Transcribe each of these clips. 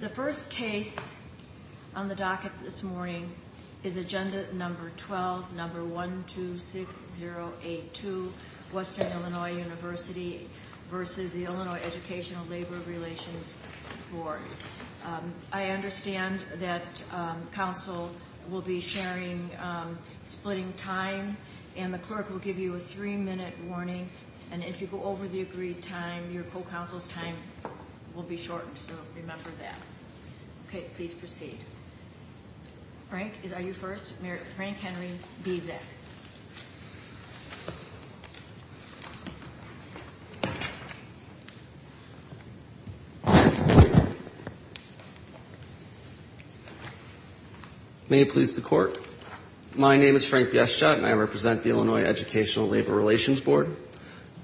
The first case on the docket this morning is agenda number 12, number 126082, Western Illinois University v. Illinois Education Labor Relations Board. I understand that counsel will be sharing, splitting time and the clerk will give you a three minute warning and if you go over the agreed time, your co-counsel's time will be shortened, so remember that. Okay, please proceed. Frank, are you first? Frank Henry, BZAC. May it please the court. My name is Frank Bieschott and I represent the Illinois Educational Labor Relations Board.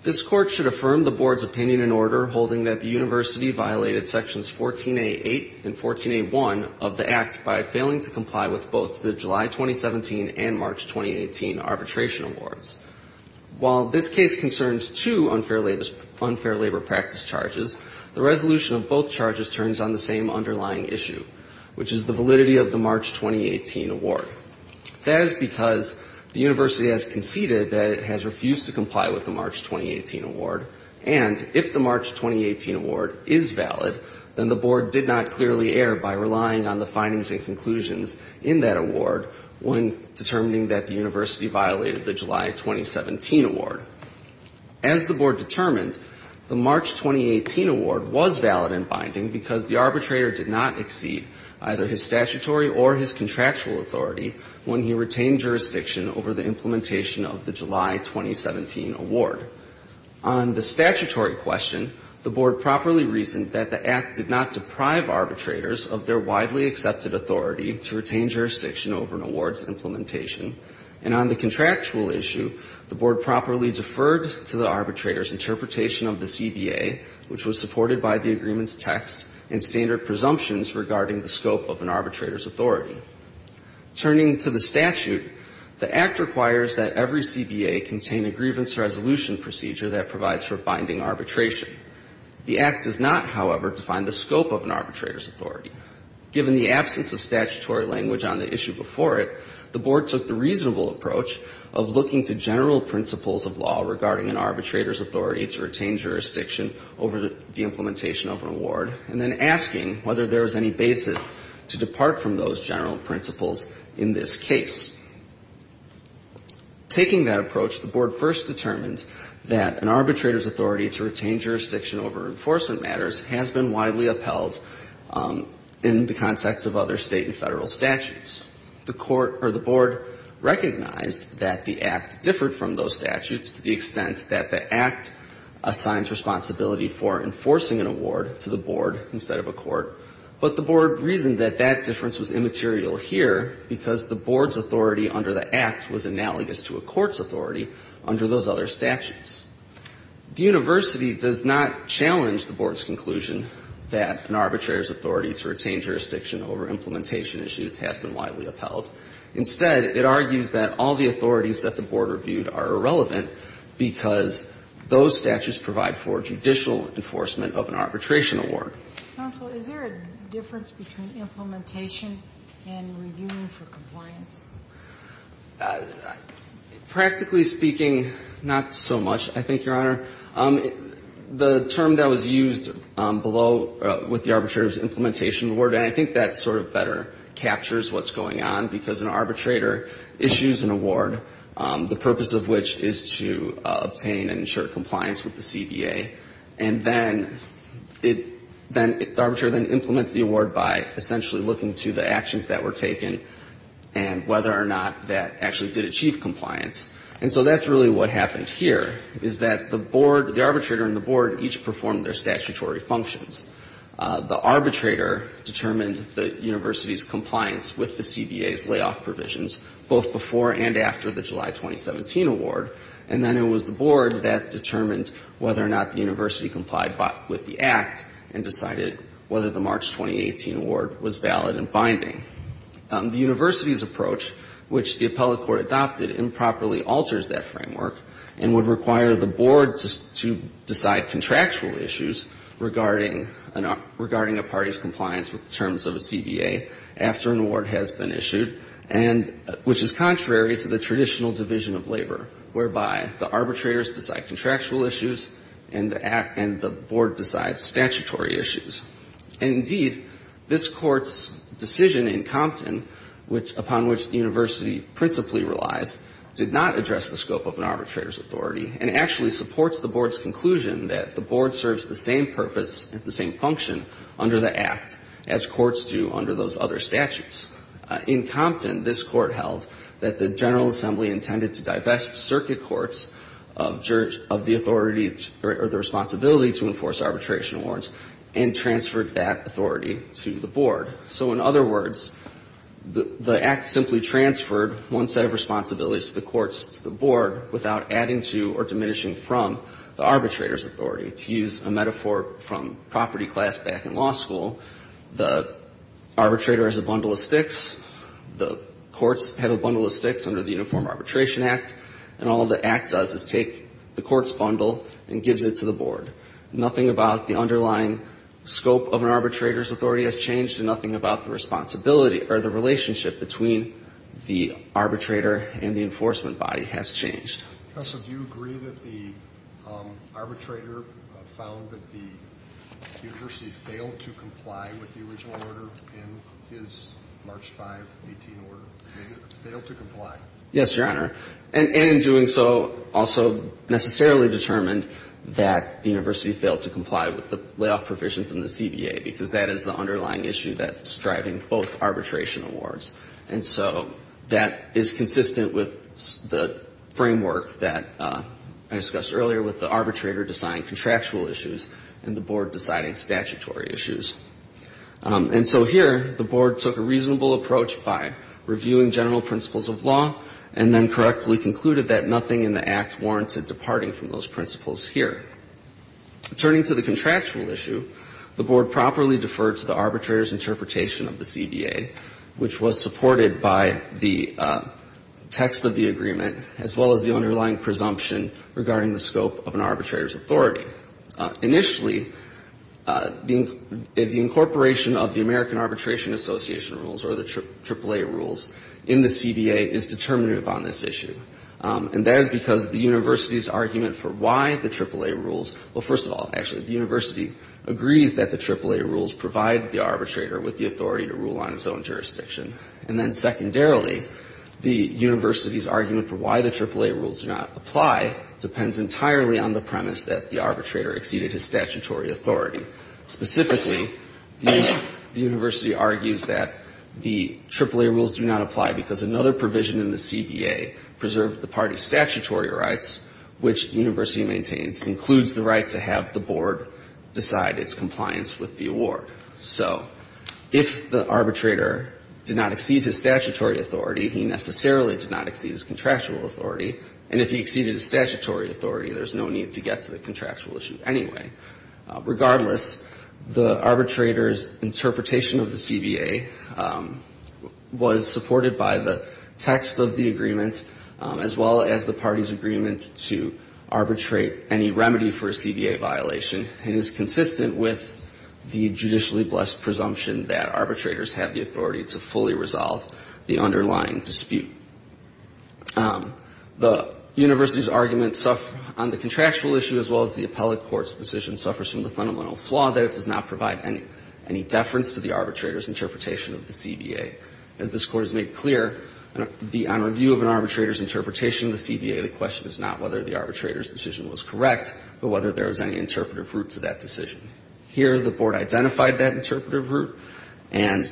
This court should affirm the board's opinion in order holding that the university violated sections 14A8 and 14A1 of the act by failing to comply with both the July 2017 and March 2018 arbitration awards. While this case concerns two unfair labor practice charges, the resolution of both charges turns on the same underlying issue, which is the validity of the March 2018 award. That is because the university has conceded that it has refused to comply with the March 2018 award and if the March 2018 award is valid, then the board did not clearly err by relying on the findings and conclusions in that award when determining that the university violated the July 2017 award. As the board determined, the March 2018 award was valid in binding because the arbitrator did not exceed either his statutory or his contractual authority when he retained jurisdiction over the implementation of the July 2017 award. On the statutory question, the board properly reasoned that the act did not deprive arbitrators of their widely accepted authority to retain jurisdiction over an award's implementation. And on the contractual issue, the board properly deferred to the arbitrator's interpretation of the CBA, which was supported by the agreement's text and standard presumptions regarding the scope of an arbitrator's authority. Turning to the statute, the act requires that every CBA contain a grievance resolution procedure that provides for binding arbitration. The act does not, however, define the scope of an arbitrator's authority. Given the absence of statutory language on the issue before it, the board took the reasonable approach of looking to general principles of law regarding an arbitrator's authority to retain jurisdiction over the implementation of an award, and then asking whether there was any basis to depart from those general principles in this case. Taking that approach, the board first determined that an arbitrator's authority to retain jurisdiction over enforcement matters has been widely upheld in the context of other state and federal statutes. The court or the board recognized that the act differed from those statutes to the extent that the act assigns responsibility for enforcing an award to the board instead of a court. But the board reasoned that that difference was immaterial here because the board's authority under the act was analogous to a court's authority under those other statutes. The university does not challenge the board's conclusion that an arbitrator's authority to retain jurisdiction over implementation issues has been widely upheld. Instead, it argues that all the authorities that the board reviewed are irrelevant because those statutes provide for judicial enforcement of an arbitration award. Counsel, is there a difference between implementation and reviewing for compliance? Practically speaking, not so much, I think, Your Honor. The term that was used below with the arbitrator's implementation award, and I think that sort of better captures what's going on because an arbitrator issues an award, the purpose of which is to obtain and ensure compliance with the CBA. And then the arbitrator then implements the award by essentially looking to the actions that were taken and whether or not that actually did achieve compliance. And so that's really what happened here, is that the board, the arbitrator and the board each performed their statutory functions. The arbitrator determined the university's compliance with the CBA's layoff provisions both before and after the July 2017 award. And then it was the board that determined whether or not the university complied with the act and decided whether the March 2018 award was valid and binding. The university's approach, which the appellate court adopted, improperly alters that framework and would require the board to decide contractual issues regarding a party's compliance with the terms of a CBA after an award has been issued, which is contrary to the traditional division of labor, whereby the arbitrators decide contractual issues and the board decides statutory issues. And indeed, this Court's decision in Compton, upon which the university principally relies, did not address the scope of an arbitrator's authority, and actually supports the board's conclusion that the board serves the same purpose and the same function under the act as courts do under those other statutes. In Compton, this Court held that the General Assembly intended to divest circuit courts of the authority or the responsibility to enforce arbitration awards and transferred that authority to the board. So in other words, the act simply transferred one set of responsibilities to the courts, to the board, without adding to or diminishing from the arbitrator's authority. To use a metaphor from property class back in law school, the arbitrator has a bundle of sticks. The courts have a bundle of sticks under the Uniform Arbitration Act, and all the act does is take the court's bundle and gives it to the board. Nothing about the underlying scope of an arbitrator's authority has changed, and nothing about the responsibility or the relationship between the arbitrator and the enforcement body has changed. And in doing so, also necessarily determined that the university failed to comply with the layoff provisions in the CBA, because that is the underlying issue that's driving both the CBA and the board. And so here, the board took a reasonable approach by reviewing general principles of law, and then correctly concluded that nothing in the act warranted departing from those principles here. Turning to the contractual issue, the board properly deferred to the arbitrator's interpretation of the CBA, which was supported by the text of the agreement, as well as the underlying presumption regarding the scope of an arbitrator's authority. Initially, the incorporation of the American Arbitration Association rules, or the AAA rules, in the CBA is determinative on this issue. And that is because the university's argument for why the AAA rules — well, first of all, actually, the university agrees that the AAA rules provide the arbitrator with the authority to rule on its own jurisdiction. The reason why the AAA rules do not apply depends entirely on the premise that the arbitrator exceeded his statutory authority. Specifically, the university argues that the AAA rules do not apply because another provision in the CBA preserved the party's statutory rights, which the university maintains includes the right to have the board decide its compliance with the award. So if the arbitrator did not exceed his statutory authority, he necessarily did not exceed his contractual authority. And if he exceeded his statutory authority, there's no need to get to the contractual issue anyway. Regardless, the arbitrator's interpretation of the CBA was supported by the text of the agreement, as well as the party's agreement to arbitrate any remedy for a CBA violation. It is consistent with the judicially blessed presumption that arbitrators have the authority to fully resolve the underlying dispute. The university's argument on the contractual issue, as well as the appellate court's decision, suffers from the fundamental flaw that it does not provide any deference to the arbitrator's interpretation of the CBA. As this Court has made clear, on review of an arbitrator's interpretation of the CBA, the question is not whether the arbitrator's decision was correct, but whether there was any interpretive root to that decision. Here, the board identified that interpretive root, and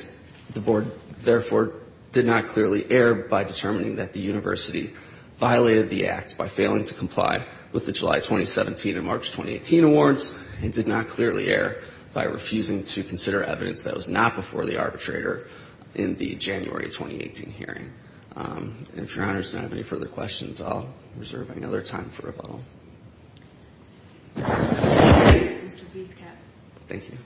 the board, therefore, did not clearly err by determining that the university violated the act by failing to comply with the July 2017 and March 2018 awards, and did not clearly err by refusing to consider evidence that was not before the arbitrator in the January 2018 hearing. And if Your Honor does not have any further questions, I'll reserve any other time for rebuttal. Thank you.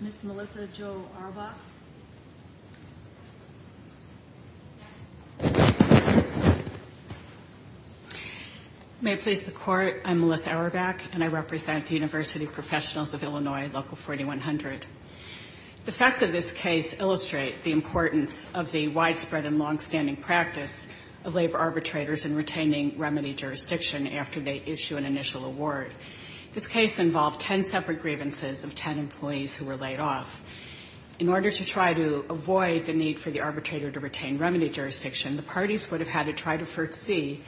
Ms. Melissa Jo Auerbach. May it please the Court, I'm Melissa Auerbach, and I represent the University Professionals of Illinois Local 4100. The facts of this case illustrate the importance of the widespread and longstanding practice of labor arbitrators in retaining remedy jurisdiction after they issue an initial award. This case involved ten separate grievances of ten employees who were laid off. In order to try to avoid the need for the arbitrator to retain remedy jurisdiction, the parties would have had to try to foresee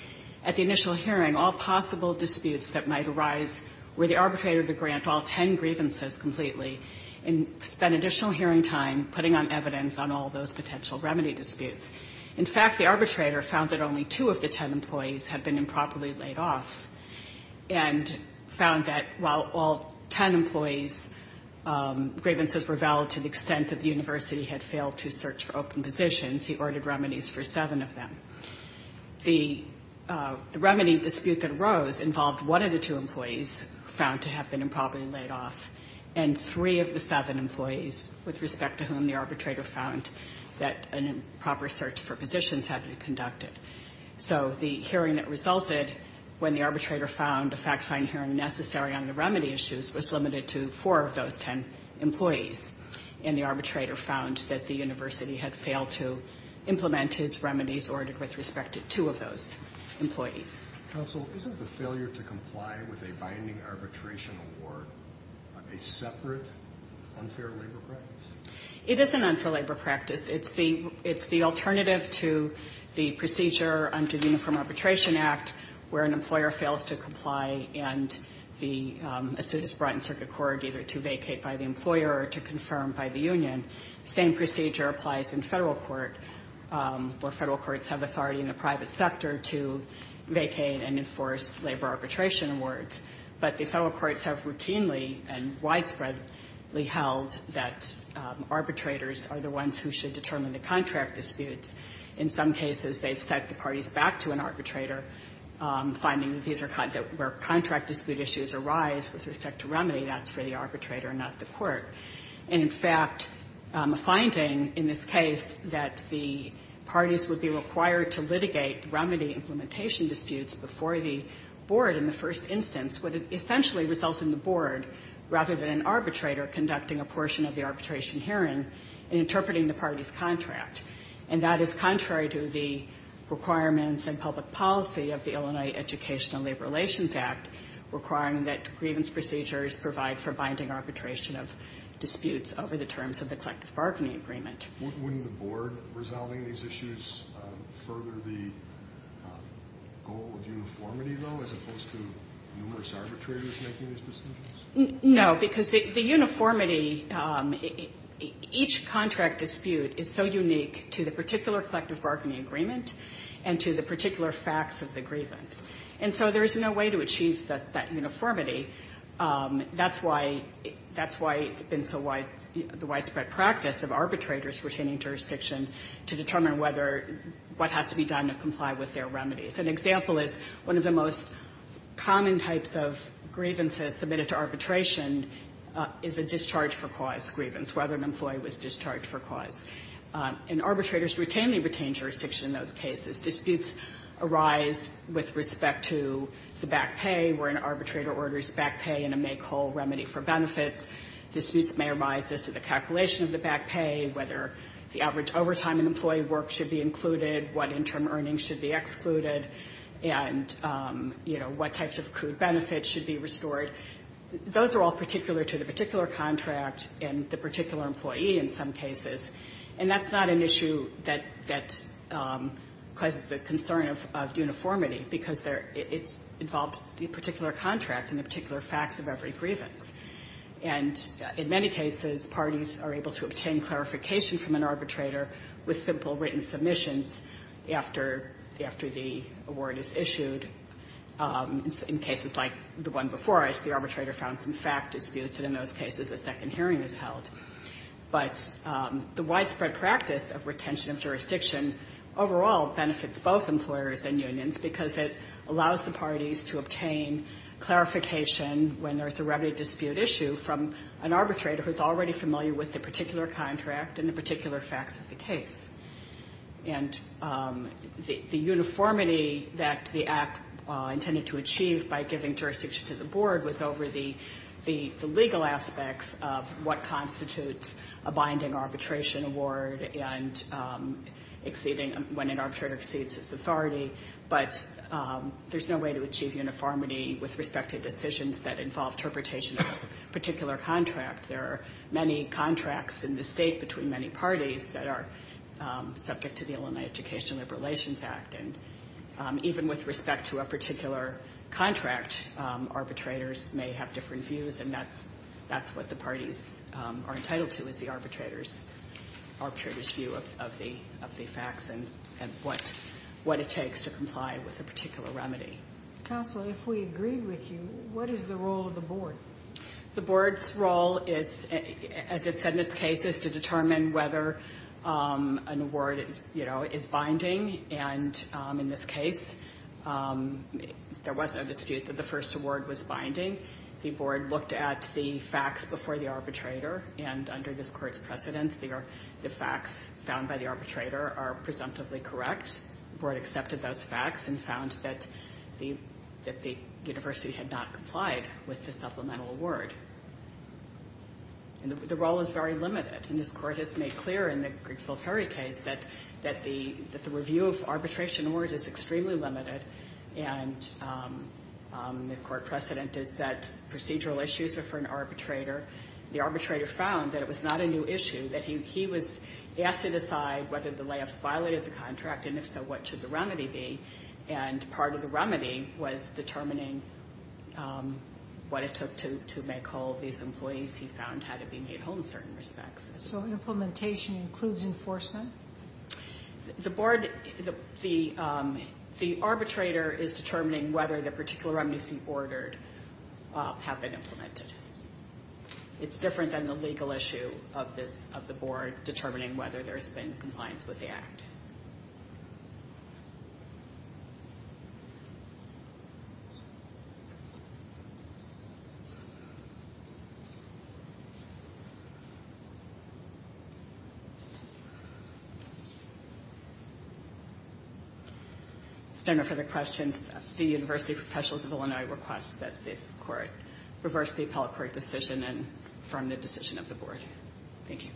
at the initial hearing all possible disputes that might arise were the arbitrator to grant all ten grievances completely and spend additional hearing time putting on evidence on all those potential remedy disputes. In fact, the arbitrator found that only two of the ten employees had been improperly laid off, and found that while all ten employees' grievances were valid to the extent that the university had failed to search for open positions, he ordered remedies for seven of them. The remedy dispute that arose involved one of the two employees found to have been improperly laid off, and three of the seven employees, with respect to whom the arbitrator found that an improper search for positions had been conducted. So the hearing that resulted when the arbitrator found a fact-finding hearing necessary on the remedy issues was limited to four of those ten employees, and the arbitrator found that the university had failed to implement his remedies ordered with respect to two of those employees. Counsel, isn't the failure to comply with a binding arbitration award a separate unfair labor practice? It is an unfair labor practice. It's the alternative to the procedure under the Uniform Arbitration Act where an employer fails to comply and the suit is brought in circuit court either to vacate by the employer or to confirm by the union. The same procedure applies in Federal court, where Federal courts have authority in the private sector to vacate and enforce labor arbitration awards. But the Federal courts have routinely and widespreadly held that arbitrators are the ones who should determine the contract disputes. In some cases, they've sent the parties back to an arbitrator, finding that these are where contract dispute issues arise with respect to remedy, that's for the arbitrator not the court. And, in fact, a finding in this case that the parties would be required to litigate remedy implementation disputes before the board in the first instance would essentially result in the board, rather than an arbitrator, conducting a portion of the arbitration hearing and interpreting the party's contract. And that is contrary to the requirements and public policy of the Illinois Educational Labor Relations Act requiring that grievance procedures provide for binding arbitration of disputes over the terms of the collective bargaining agreement. Wouldn't the board resolving these issues further the goal of uniformity, though, as opposed to numerous arbitrators making these decisions? No, because the uniformity, each contract dispute is so unique to the particular facts of the grievance. And so there is no way to achieve that uniformity. That's why it's been so wide, the widespread practice of arbitrators retaining jurisdiction to determine whether, what has to be done to comply with their remedies. An example is one of the most common types of grievances submitted to arbitration is a discharge for cause grievance, whether an employee was discharged for cause. And arbitrators routinely retain jurisdiction in those cases. Disputes arise with respect to the back pay where an arbitrator orders back pay in a make-all remedy for benefits. Disputes may arise as to the calculation of the back pay, whether the average overtime in employee work should be included, what interim earnings should be excluded, and, you know, what types of accrued benefits should be restored. Those are all particular to the particular contract and the particular employee in some cases. And that's not an issue that causes the concern of uniformity, because it's involved in the particular contract and the particular facts of every grievance. And in many cases, parties are able to obtain clarification from an arbitrator with simple written submissions after the award is issued in cases like the one before where the arbitrator found some fact disputes, and in those cases a second hearing is held. But the widespread practice of retention of jurisdiction overall benefits both employers and unions because it allows the parties to obtain clarification when there's a remedy dispute issue from an arbitrator who's already familiar with the particular contract and the particular facts of the case. And the uniformity that the Act intended to achieve by giving jurisdiction to the board was over the legal aspects of what constitutes a binding arbitration award and exceeding when an arbitrator exceeds his authority. But there's no way to achieve uniformity with respect to decisions that involve interpretation of a particular contract. There are many contracts in the state between many parties that are subject to the Illinois Education and Labor Relations Act. And even with respect to a particular contract, arbitrators may have different views, and that's what the parties are entitled to, is the arbitrator's view of the facts and what it takes to comply with a particular remedy. Counsel, if we agreed with you, what is the role of the board? The board's role is, as it said in its case, is to determine whether an award is binding. And in this case, there was no dispute that the first award was binding. The board looked at the facts before the arbitrator, and under this Court's precedence, the facts found by the arbitrator are presumptively correct. The board accepted those facts and found that the university had not complied with the supplemental award. And the role is very limited. And this Court has made clear in the Grigsville Ferry case that the review of arbitration awards is extremely limited, and the Court precedent is that procedural issues are for an arbitrator. The arbitrator found that it was not a new issue, that he was asked to decide whether the layoffs violated the contract, and if so, what should the remedy be. And part of the remedy was determining what it took to make whole these employees he found had to be made whole in certain respects. So implementation includes enforcement? The board, the arbitrator is determining whether the particular remedies he ordered have been implemented. It's different than the legal issue of the board determining whether there's been compliance with the Act. If there are no further questions, the University Professionals of Illinois requests that this be a public court decision and affirm the decision of the board. Thank you.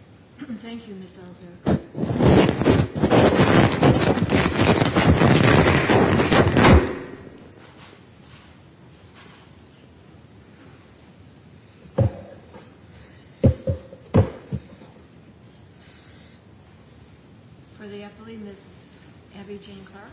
Thank you, Ms. Albuquerque. For the Eppley, Ms. Abby Jane Clark.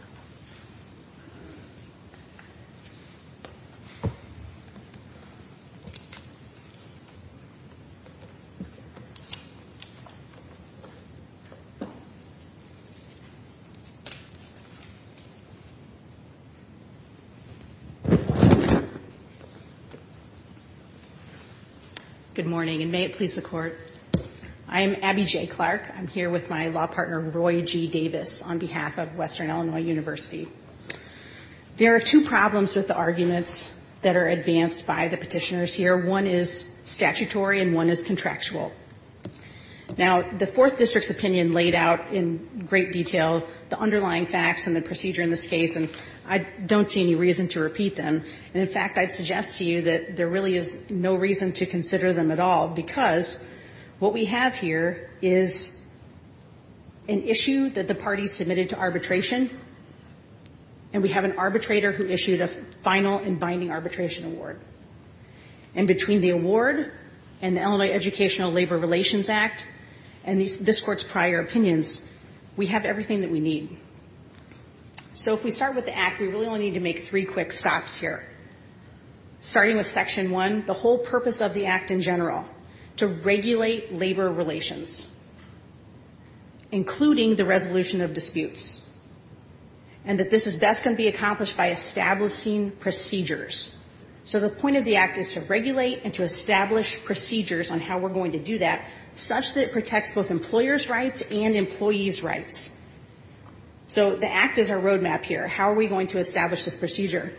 Good morning, and may it please the Court. I'm Abby Jane Clark. I'm here with my law partner, Roy G. Davis, on behalf of Western Illinois University. There are two problems with the arguments that are advanced by the Petitioners here. One is statutory and one is contractual. Now, the Fourth District's opinion laid out in great detail the underlying facts and the procedure in this case, and I don't see any reason to repeat them. And in fact, I'd suggest to you that there really is no reason to consider them at all, because what we have here is an issue that the parties submitted to arbitration, and we have an arbitrator who issued a final and binding arbitration award. And between the award and the Illinois Educational Labor Relations Act and this Court's prior opinions, we have everything that we need. So if we start with the Act, we really only need to make three quick stops here, starting with Section 1, the whole purpose of the Act in general, to regulate labor relations, including the resolution of disputes, and that this is best going to be accomplished by establishing procedures. So the point of the Act is to regulate and to establish procedures on how we're going to do that, such that it protects both employers' rights and employees' rights. So the Act is our roadmap here. How are we going to establish this procedure?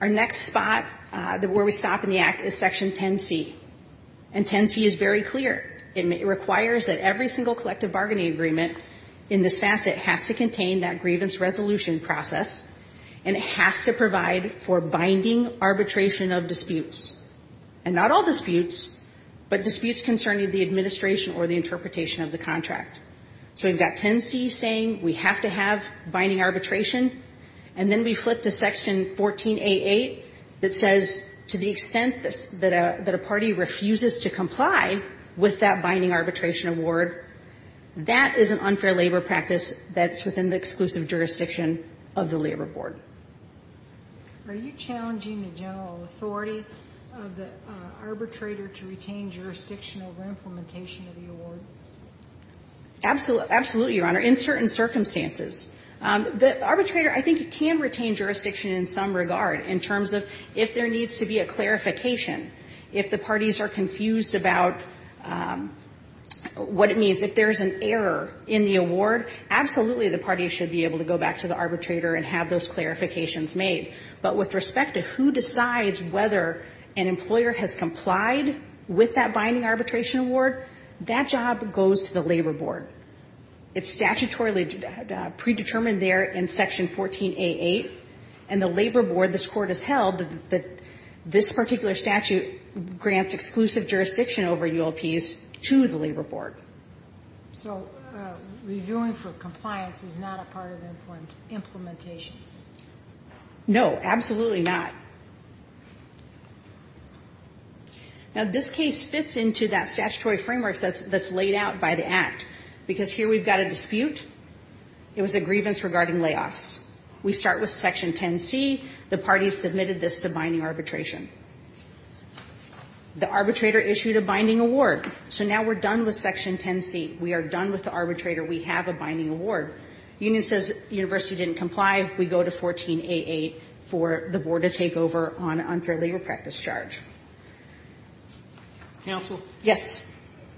Our next spot where we stop in the Act is Section 10c. And 10c is very clear. It requires that every single collective bargaining agreement in this facet has to contain that grievance resolution process, and it has to provide for binding arbitration of disputes, and not all disputes, but disputes concerning the administration or the interpretation of the contract. So we've got 10c saying we have to have binding arbitration, and then we flip to Section 14a.8 that says to the extent that a party refuses to comply with that binding arbitration award, that is an unfair labor practice that's within the exclusive jurisdiction of the Labor Board. Are you challenging the general authority of the arbitrator to retain jurisdiction over implementation of the award? Absolutely, Your Honor, in certain circumstances. The arbitrator, I think, can retain jurisdiction in some regard in terms of if there is an error in the award, absolutely the party should be able to go back to the arbitrator and have those clarifications made. But with respect to who decides whether an employer has complied with that binding arbitration award, that job goes to the Labor Board. It's statutorily predetermined there in Section 14a.8, and the Labor Board, this Court has held that this particular statute grants exclusive jurisdiction over ULPs to the Labor Board. So reviewing for compliance is not a part of implementation? No, absolutely not. Now, this case fits into that statutory framework that's laid out by the Act, because here we've got a dispute. It was a grievance regarding layoffs. We start with Section 10c. The parties submitted this to binding arbitration. The arbitrator issued a binding award. So now we're done with Section 10c. We are done with the arbitrator. We have a binding award. The union says the university didn't comply. We go to 14a.8 for the board to take over on unfair labor practice charge. Counsel? Yes.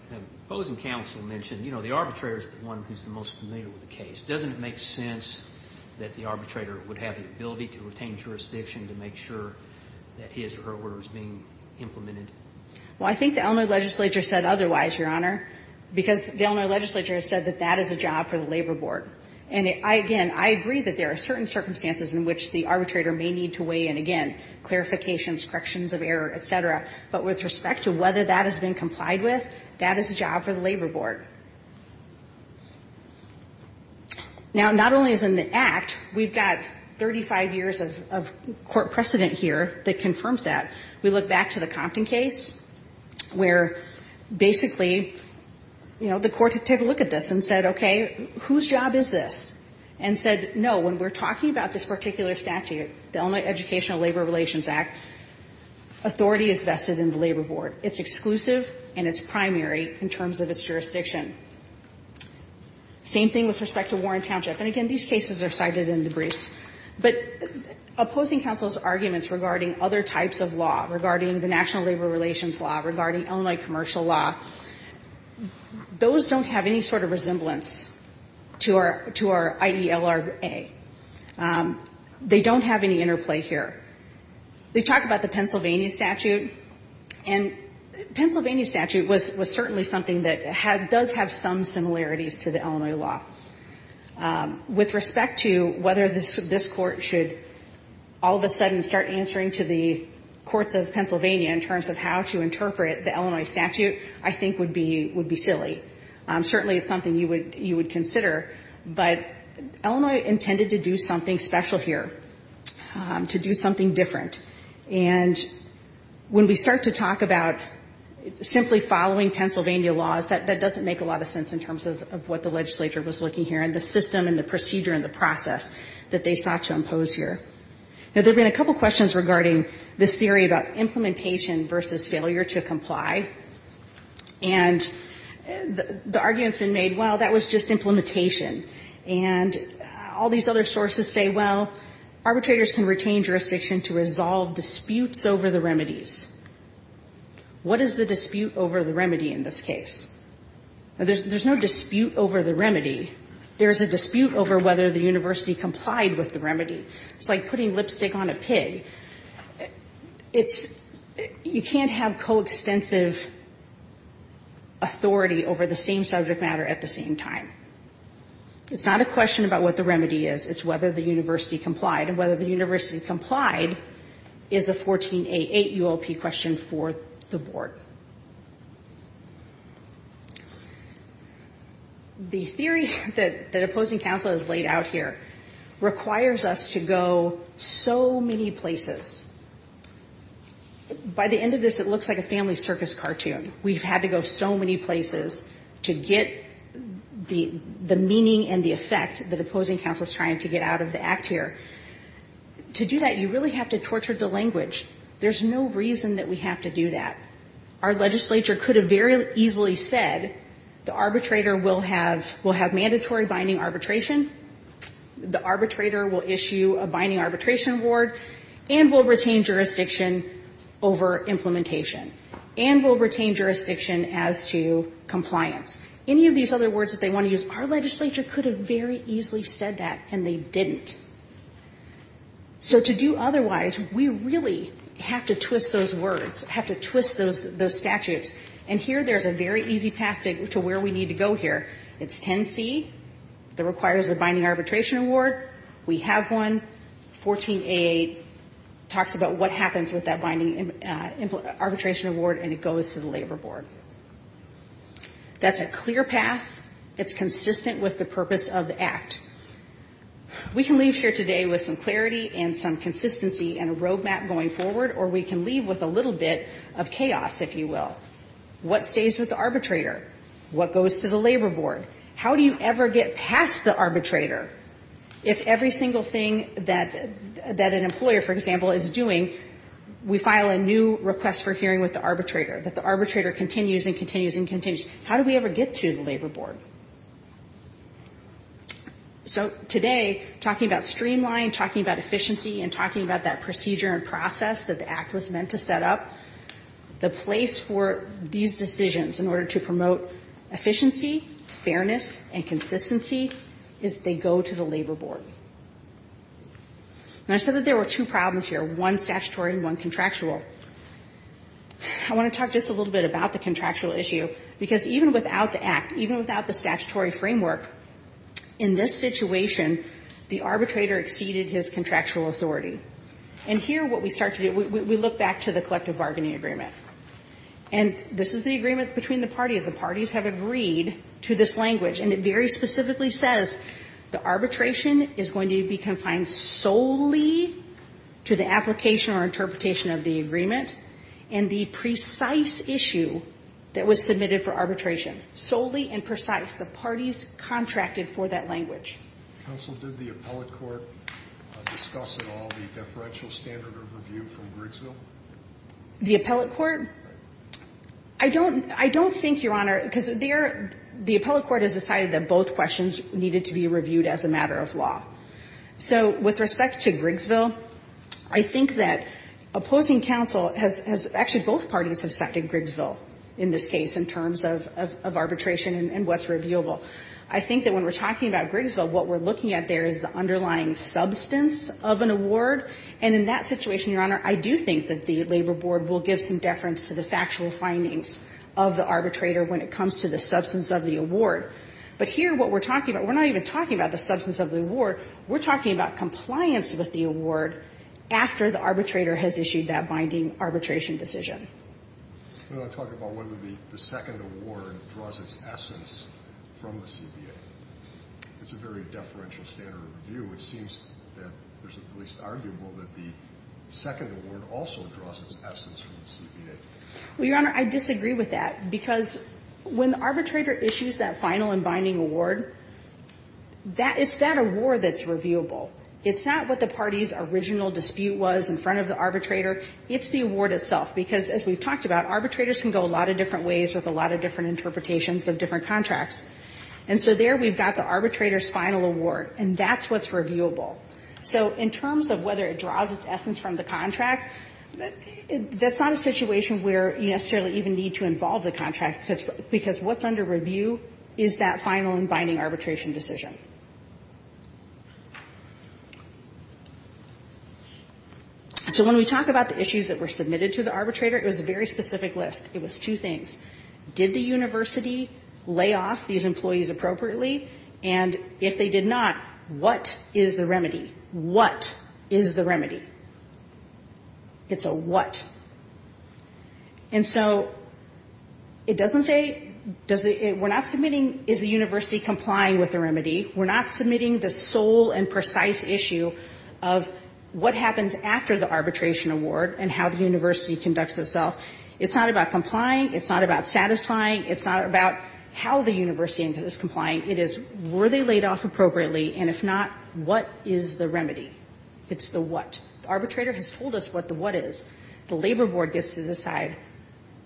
The opposing counsel mentioned, you know, the arbitrator is the one who's the most familiar with the case. Doesn't it make sense that the arbitrator would have the ability to retain jurisdiction to make sure that his or her order is being implemented? Well, I think the Eleanor legislature said otherwise, Your Honor, because the Eleanor legislature said that that is a job for the Labor Board. And I, again, I agree that there are certain circumstances in which the arbitrator may need to weigh in, again, clarifications, corrections of error, et cetera. But with respect to whether that has been complied with, that is a job for the Labor Board. Now, not only is in the Act, we've got 35 years of court precedent here that confirms that. We look back to the Compton case, where basically, you know, the court took a look at this and said, okay, whose job is this? And said, no, when we're talking about this particular statute, the Illinois Educational Labor Relations Act, authority is vested in the Labor Board. It's exclusive and it's primary in terms of its jurisdiction. Same thing with respect to Warren Township. And again, these cases are cited in the briefs. But opposing counsel's arguments regarding other types of law, regarding the national labor relations law, regarding Illinois commercial law, those don't have any sort of resemblance to our IDLR-A. They don't have any interplay here. They talk about the Pennsylvania statute, and Pennsylvania statute was certainly something that does have some similarities to the Illinois law. With respect to whether this Court should all of a sudden start answering to the courts of Pennsylvania in terms of how to interpret the Illinois statute, I think would be silly. Certainly, it's something you would consider. But Illinois intended to do something special here, to do something different. And when we start to talk about simply following Pennsylvania laws, that doesn't make a lot of sense in terms of what the legislature was looking here and the system and the procedure and the process that they sought to impose here. Now, there have been a couple questions regarding this theory about implementation versus failure to comply. And the argument's been made, well, that was just implementation. And all these other sources say, well, arbitrators can retain jurisdiction to resolve disputes over the remedies. What is the dispute over the remedy in this case? Now, there's no dispute over the remedy. There's a dispute over whether the university complied with the remedy. It's like putting lipstick on a pig. It's you can't have coextensive authority over the same subject matter at the same time. It's not a question about what the remedy is. It's whether the remedy complied is a 14A8 ULP question for the board. The theory that opposing counsel has laid out here requires us to go so many places. By the end of this, it looks like a family circus cartoon. We've had to go so many places to get the meaning and the effect that opposing counsel is trying to get out of the act here. To do that, you really have to torture the language. There's no reason that we have to do that. Our legislature could have very easily said the arbitrator will have mandatory binding arbitration, the arbitrator will issue a binding arbitration award, and will retain jurisdiction over implementation, and will retain jurisdiction as to compliance. Any of these other words that they want to use, our legislature could have very easily said that, and they didn't. So to do otherwise, we really have to twist those words, have to twist those statutes. And here there's a very easy path to where we need to go here. It's 10C that requires a binding arbitration award. We have one. 14A8 talks about what happens with that binding arbitration award, and it goes to the labor board. That's a clear path. It's consistent with the purpose of the act. We can leave here today with some clarity and some consistency and a road map going forward, or we can leave with a little bit of chaos, if you will. What stays with the arbitrator? What goes to the labor board? How do you ever get past the arbitrator if every single thing that an employer, for example, is doing, we file a new request for hearing with the arbitrator, that the arbitrator continues and continues and continues? How do we ever get to the labor board? So today, talking about streamline, talking about efficiency, and talking about that procedure and process that the act was meant to set up, the place for these decisions in order to promote efficiency, fairness, and consistency is they go to the labor board. And I said that there were two problems here, one statutory and one contractual. I want to talk just a little bit about the contractual issue, because even without the act, even without the statutory framework, in this situation, the arbitrator exceeded his contractual authority. And here what we start to do, we look back to the collective bargaining agreement. And this is the agreement between the parties. The parties have agreed to this language, and it very specifically says the arbitration is going to be confined solely to the application or interpretation of the agreement and the precise issue that was submitted for arbitration, solely and precise. The parties contracted for that language. Counsel, did the appellate court discuss at all the deferential standard of review from Grigsville? The appellate court? I don't think, Your Honor, because the appellate court has decided that both questions needed to be reviewed as a matter of law. So with respect to Grigsville, I think that opposing counsel has actually both parties have second Grigsville in this case in terms of arbitration and what's reviewable. I think that when we're talking about Grigsville, what we're looking at there is the underlying substance of an award. And in that situation, Your Honor, I do think that the labor board will give some deference to the factual findings of the arbitrator when it comes to the substance of the award. But here, what we're talking about, we're not even talking about the substance of the award. We're talking about compliance with the award after the arbitrator has issued that binding arbitration decision. I'm talking about whether the second award draws its essence from the CBA. It's a very deferential standard of review. It seems that there's at least arguable that the second award also draws its essence from the CBA. Well, Your Honor, I disagree with that, because when the arbitrator issues that final and binding award, that is that award that's reviewable. It's not what the party's original dispute was in front of the arbitrator. It's the award itself, because as we've talked about, arbitrators can go a lot of different ways with a lot of different interpretations of different contracts. And so there we've got the arbitrator's final award, and that's what's reviewable. So in terms of whether it draws its essence from the contract, that's not a situation where you necessarily even need to involve the contractor, because what's under review is that final and binding arbitration decision. So when we talk about the issues that were submitted to the arbitrator, it was a very specific list. It was two things. Did the university lay off these employees appropriately? And if they did not, what is the remedy? What is the remedy? It's a what. And so it doesn't say we're not submitting is the university complying with the remedy. We're not submitting the sole and precise issue of what happens after the arbitration award and how the university conducts itself. It's not about complying. It's not about satisfying. It's not about how the university is complying. It is were they laid off appropriately, and if not, what is the remedy? It's the what. The arbitrator has told us what the what is. The labor board gets to decide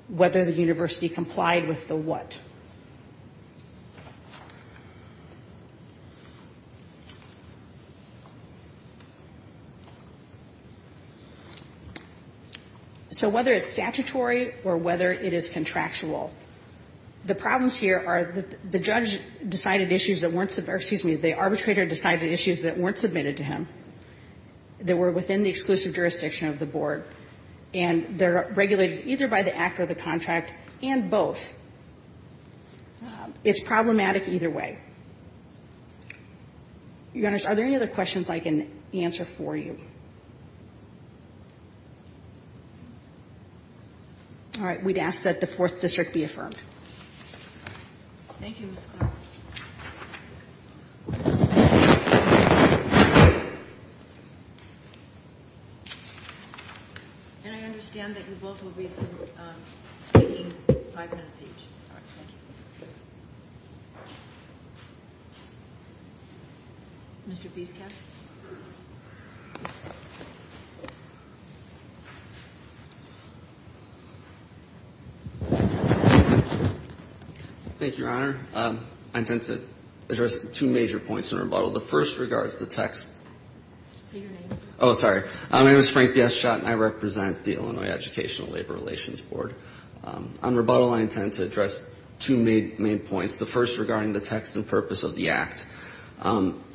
whether the university complied with the what. So whether it's statutory or whether it is contractual, the problems here are the judge decided issues that weren't, excuse me, the arbitrator decided issues that were within the exclusive jurisdiction of the board, and they're regulated either by the act or the contract and both. It's problematic either way. Your Honor, are there any other questions I can answer for you? All right. We'd ask that the Fourth District be affirmed. Thank you, Ms. Clark. And I understand that you both will be speaking five minutes each. All right. Thank you. Mr. Biscott. Thank you, Your Honor. I intend to address two major points in rebuttal. The first regards the text. Say your name. Oh, sorry. My name is Frank B.S. Schott, and I represent the Illinois Educational Labor Relations Board. On rebuttal, I intend to address two main points, the first regarding the text and purpose of the Act.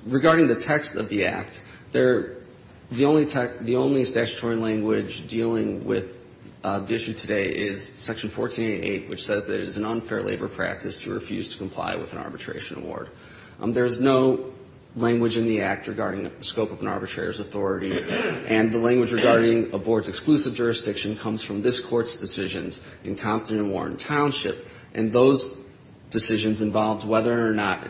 Regarding the text of the Act, the only statutory language dealing with the issue today is Section 1488, which says that it is an unfair labor practice to refuse to comply with an arbitration award. There is no language in the Act regarding the scope of an arbitrator's authority, and the language regarding a board's exclusive jurisdiction comes from this Court's decisions in Compton and Warren Township, and those decisions involved whether or not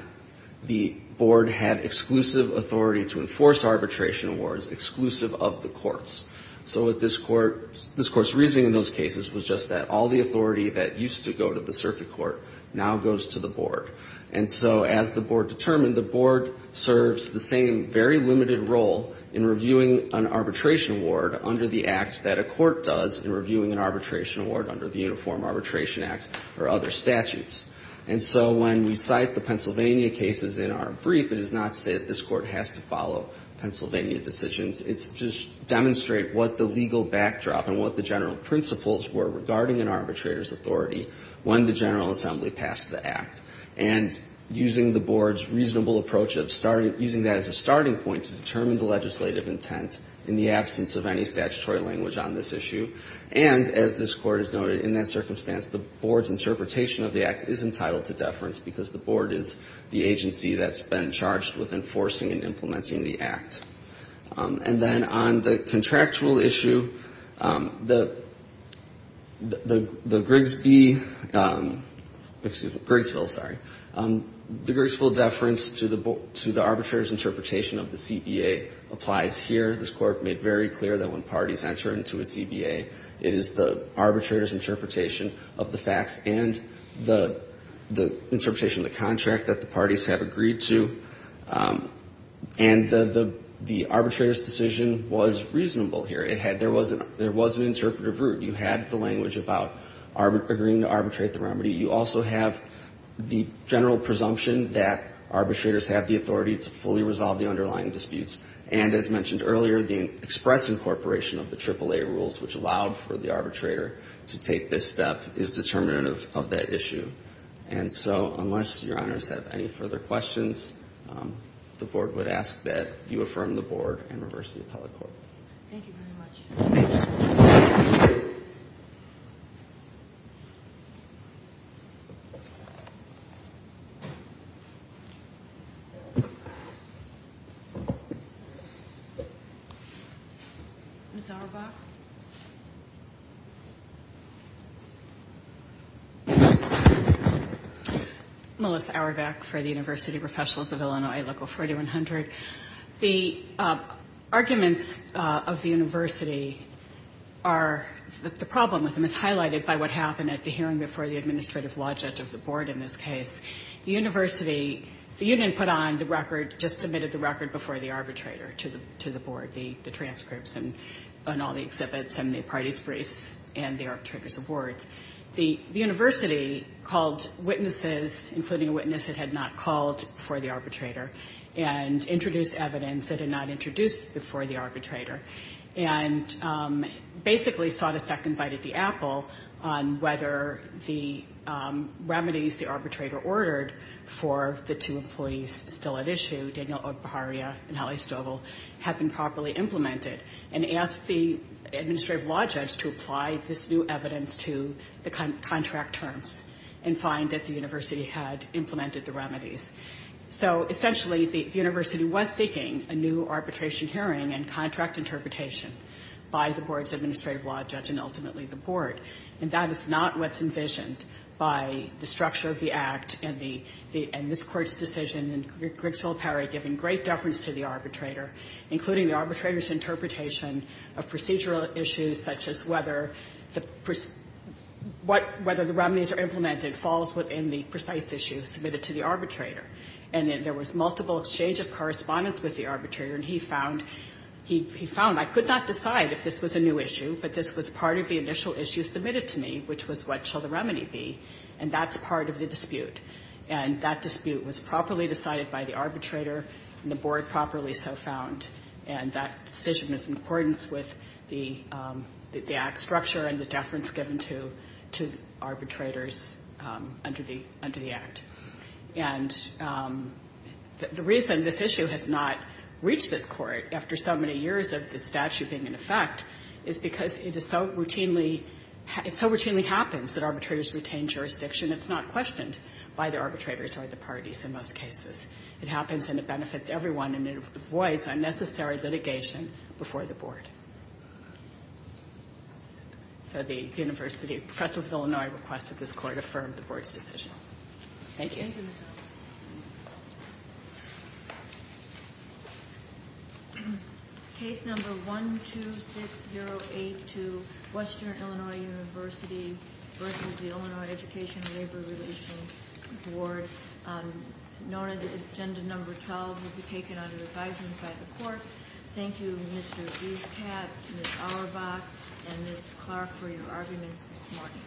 the board had exclusive authority to enforce arbitration awards exclusive of the courts. So what this Court's reasoning in those cases was just that all the authority that used to go to the circuit court now goes to the board. And so as the board determined, the board serves the same very limited role in reviewing an arbitration award under the Act that a court does in reviewing an arbitration award under the Uniform Arbitration Act or other statutes. And so when we cite the Pennsylvania cases in our brief, it does not say that this backdrop and what the general principles were regarding an arbitrator's authority when the General Assembly passed the Act. And using the board's reasonable approach of using that as a starting point to determine the legislative intent in the absence of any statutory language on this issue, and as this Court has noted, in that circumstance, the board's interpretation of the Act is entitled to deference because the board is the agency that's been charged with enforcing and implementing the Act. And then on the contractual issue, the Grigsby — excuse me, Grigsville, sorry. The Grigsville deference to the arbitrator's interpretation of the CBA applies here. This Court made very clear that when parties enter into a CBA, it is the arbitrator's interpretation of the facts and the interpretation of the contract that the parties have agreed to. And the arbitrator's decision was reasonable here. There was an interpretive route. You had the language about agreeing to arbitrate the remedy. You also have the general presumption that arbitrators have the authority to fully resolve the underlying disputes. And as mentioned earlier, the express incorporation of the AAA rules, which allowed for the arbitrator to take this step, is determinant of that issue. And so unless Your Honor's have any further questions, the board would ask that you affirm the board and reverse the appellate court. Thank you very much. Ms. Auerbach? Melissa Auerbach for the University Professionals of Illinois, Local 4100. The arguments of the university are — the problem with them is highlighted by what happened at the hearing before the administrative law judge of the board in this case. The university — the union put on the record — just submitted the record before the arbitrator to the board, the transcripts and all the exhibits and the parties' briefs and the arbitrator's awards. The university called witnesses, including a witness that had not called before the arbitrator, and introduced evidence that had not introduced before the arbitrator, and basically sought a second bite at the apple on whether the remedies the arbitrator ordered for the two employees still at issue, Daniel O'Baharia and Hallie Stovall, had been properly implemented, and asked the administrative law judge to apply this new evidence to the contract terms and find that the university had implemented the remedies. So, essentially, the university was seeking a new arbitration hearing and contract interpretation by the board's administrative law judge and ultimately the board. And that is not what's envisioned by the structure of the Act and the — and this Court's decision in Grigsville-Perry giving great deference to the arbitrator, including the arbitrator's interpretation of procedural issues such as whether the — what — whether the remedies are implemented falls within the precise issue submitted to the arbitrator. And there was multiple exchange of correspondence with the arbitrator, and he found — he found, I could not decide if this was a new issue, but this was part of the initial issue submitted to me, which was what shall the remedy be. And that's part of the dispute. And that dispute was properly decided by the arbitrator and the board properly so found. And that decision was in accordance with the Act's structure and the deference given to — to arbitrators under the — under the Act. And the reason this issue has not reached this Court after so many years of the statute being in effect is because it is so routinely — it so routinely happens that arbitrators retain jurisdiction. It's not questioned by the arbitrators or the parties in most cases. It happens, and it benefits everyone, and it avoids unnecessary litigation before the board. So the University of — Professors of Illinois requested this Court affirm the board's decision. Thank you. Case number 126082, Western Illinois University versus the Illinois Education and Labor Relations Board, known as Agenda Number 12, will be taken under advisement by the Court. Thank you, Mr. Dueskat, Ms. Auerbach, and Ms. Clark, for your arguments this morning.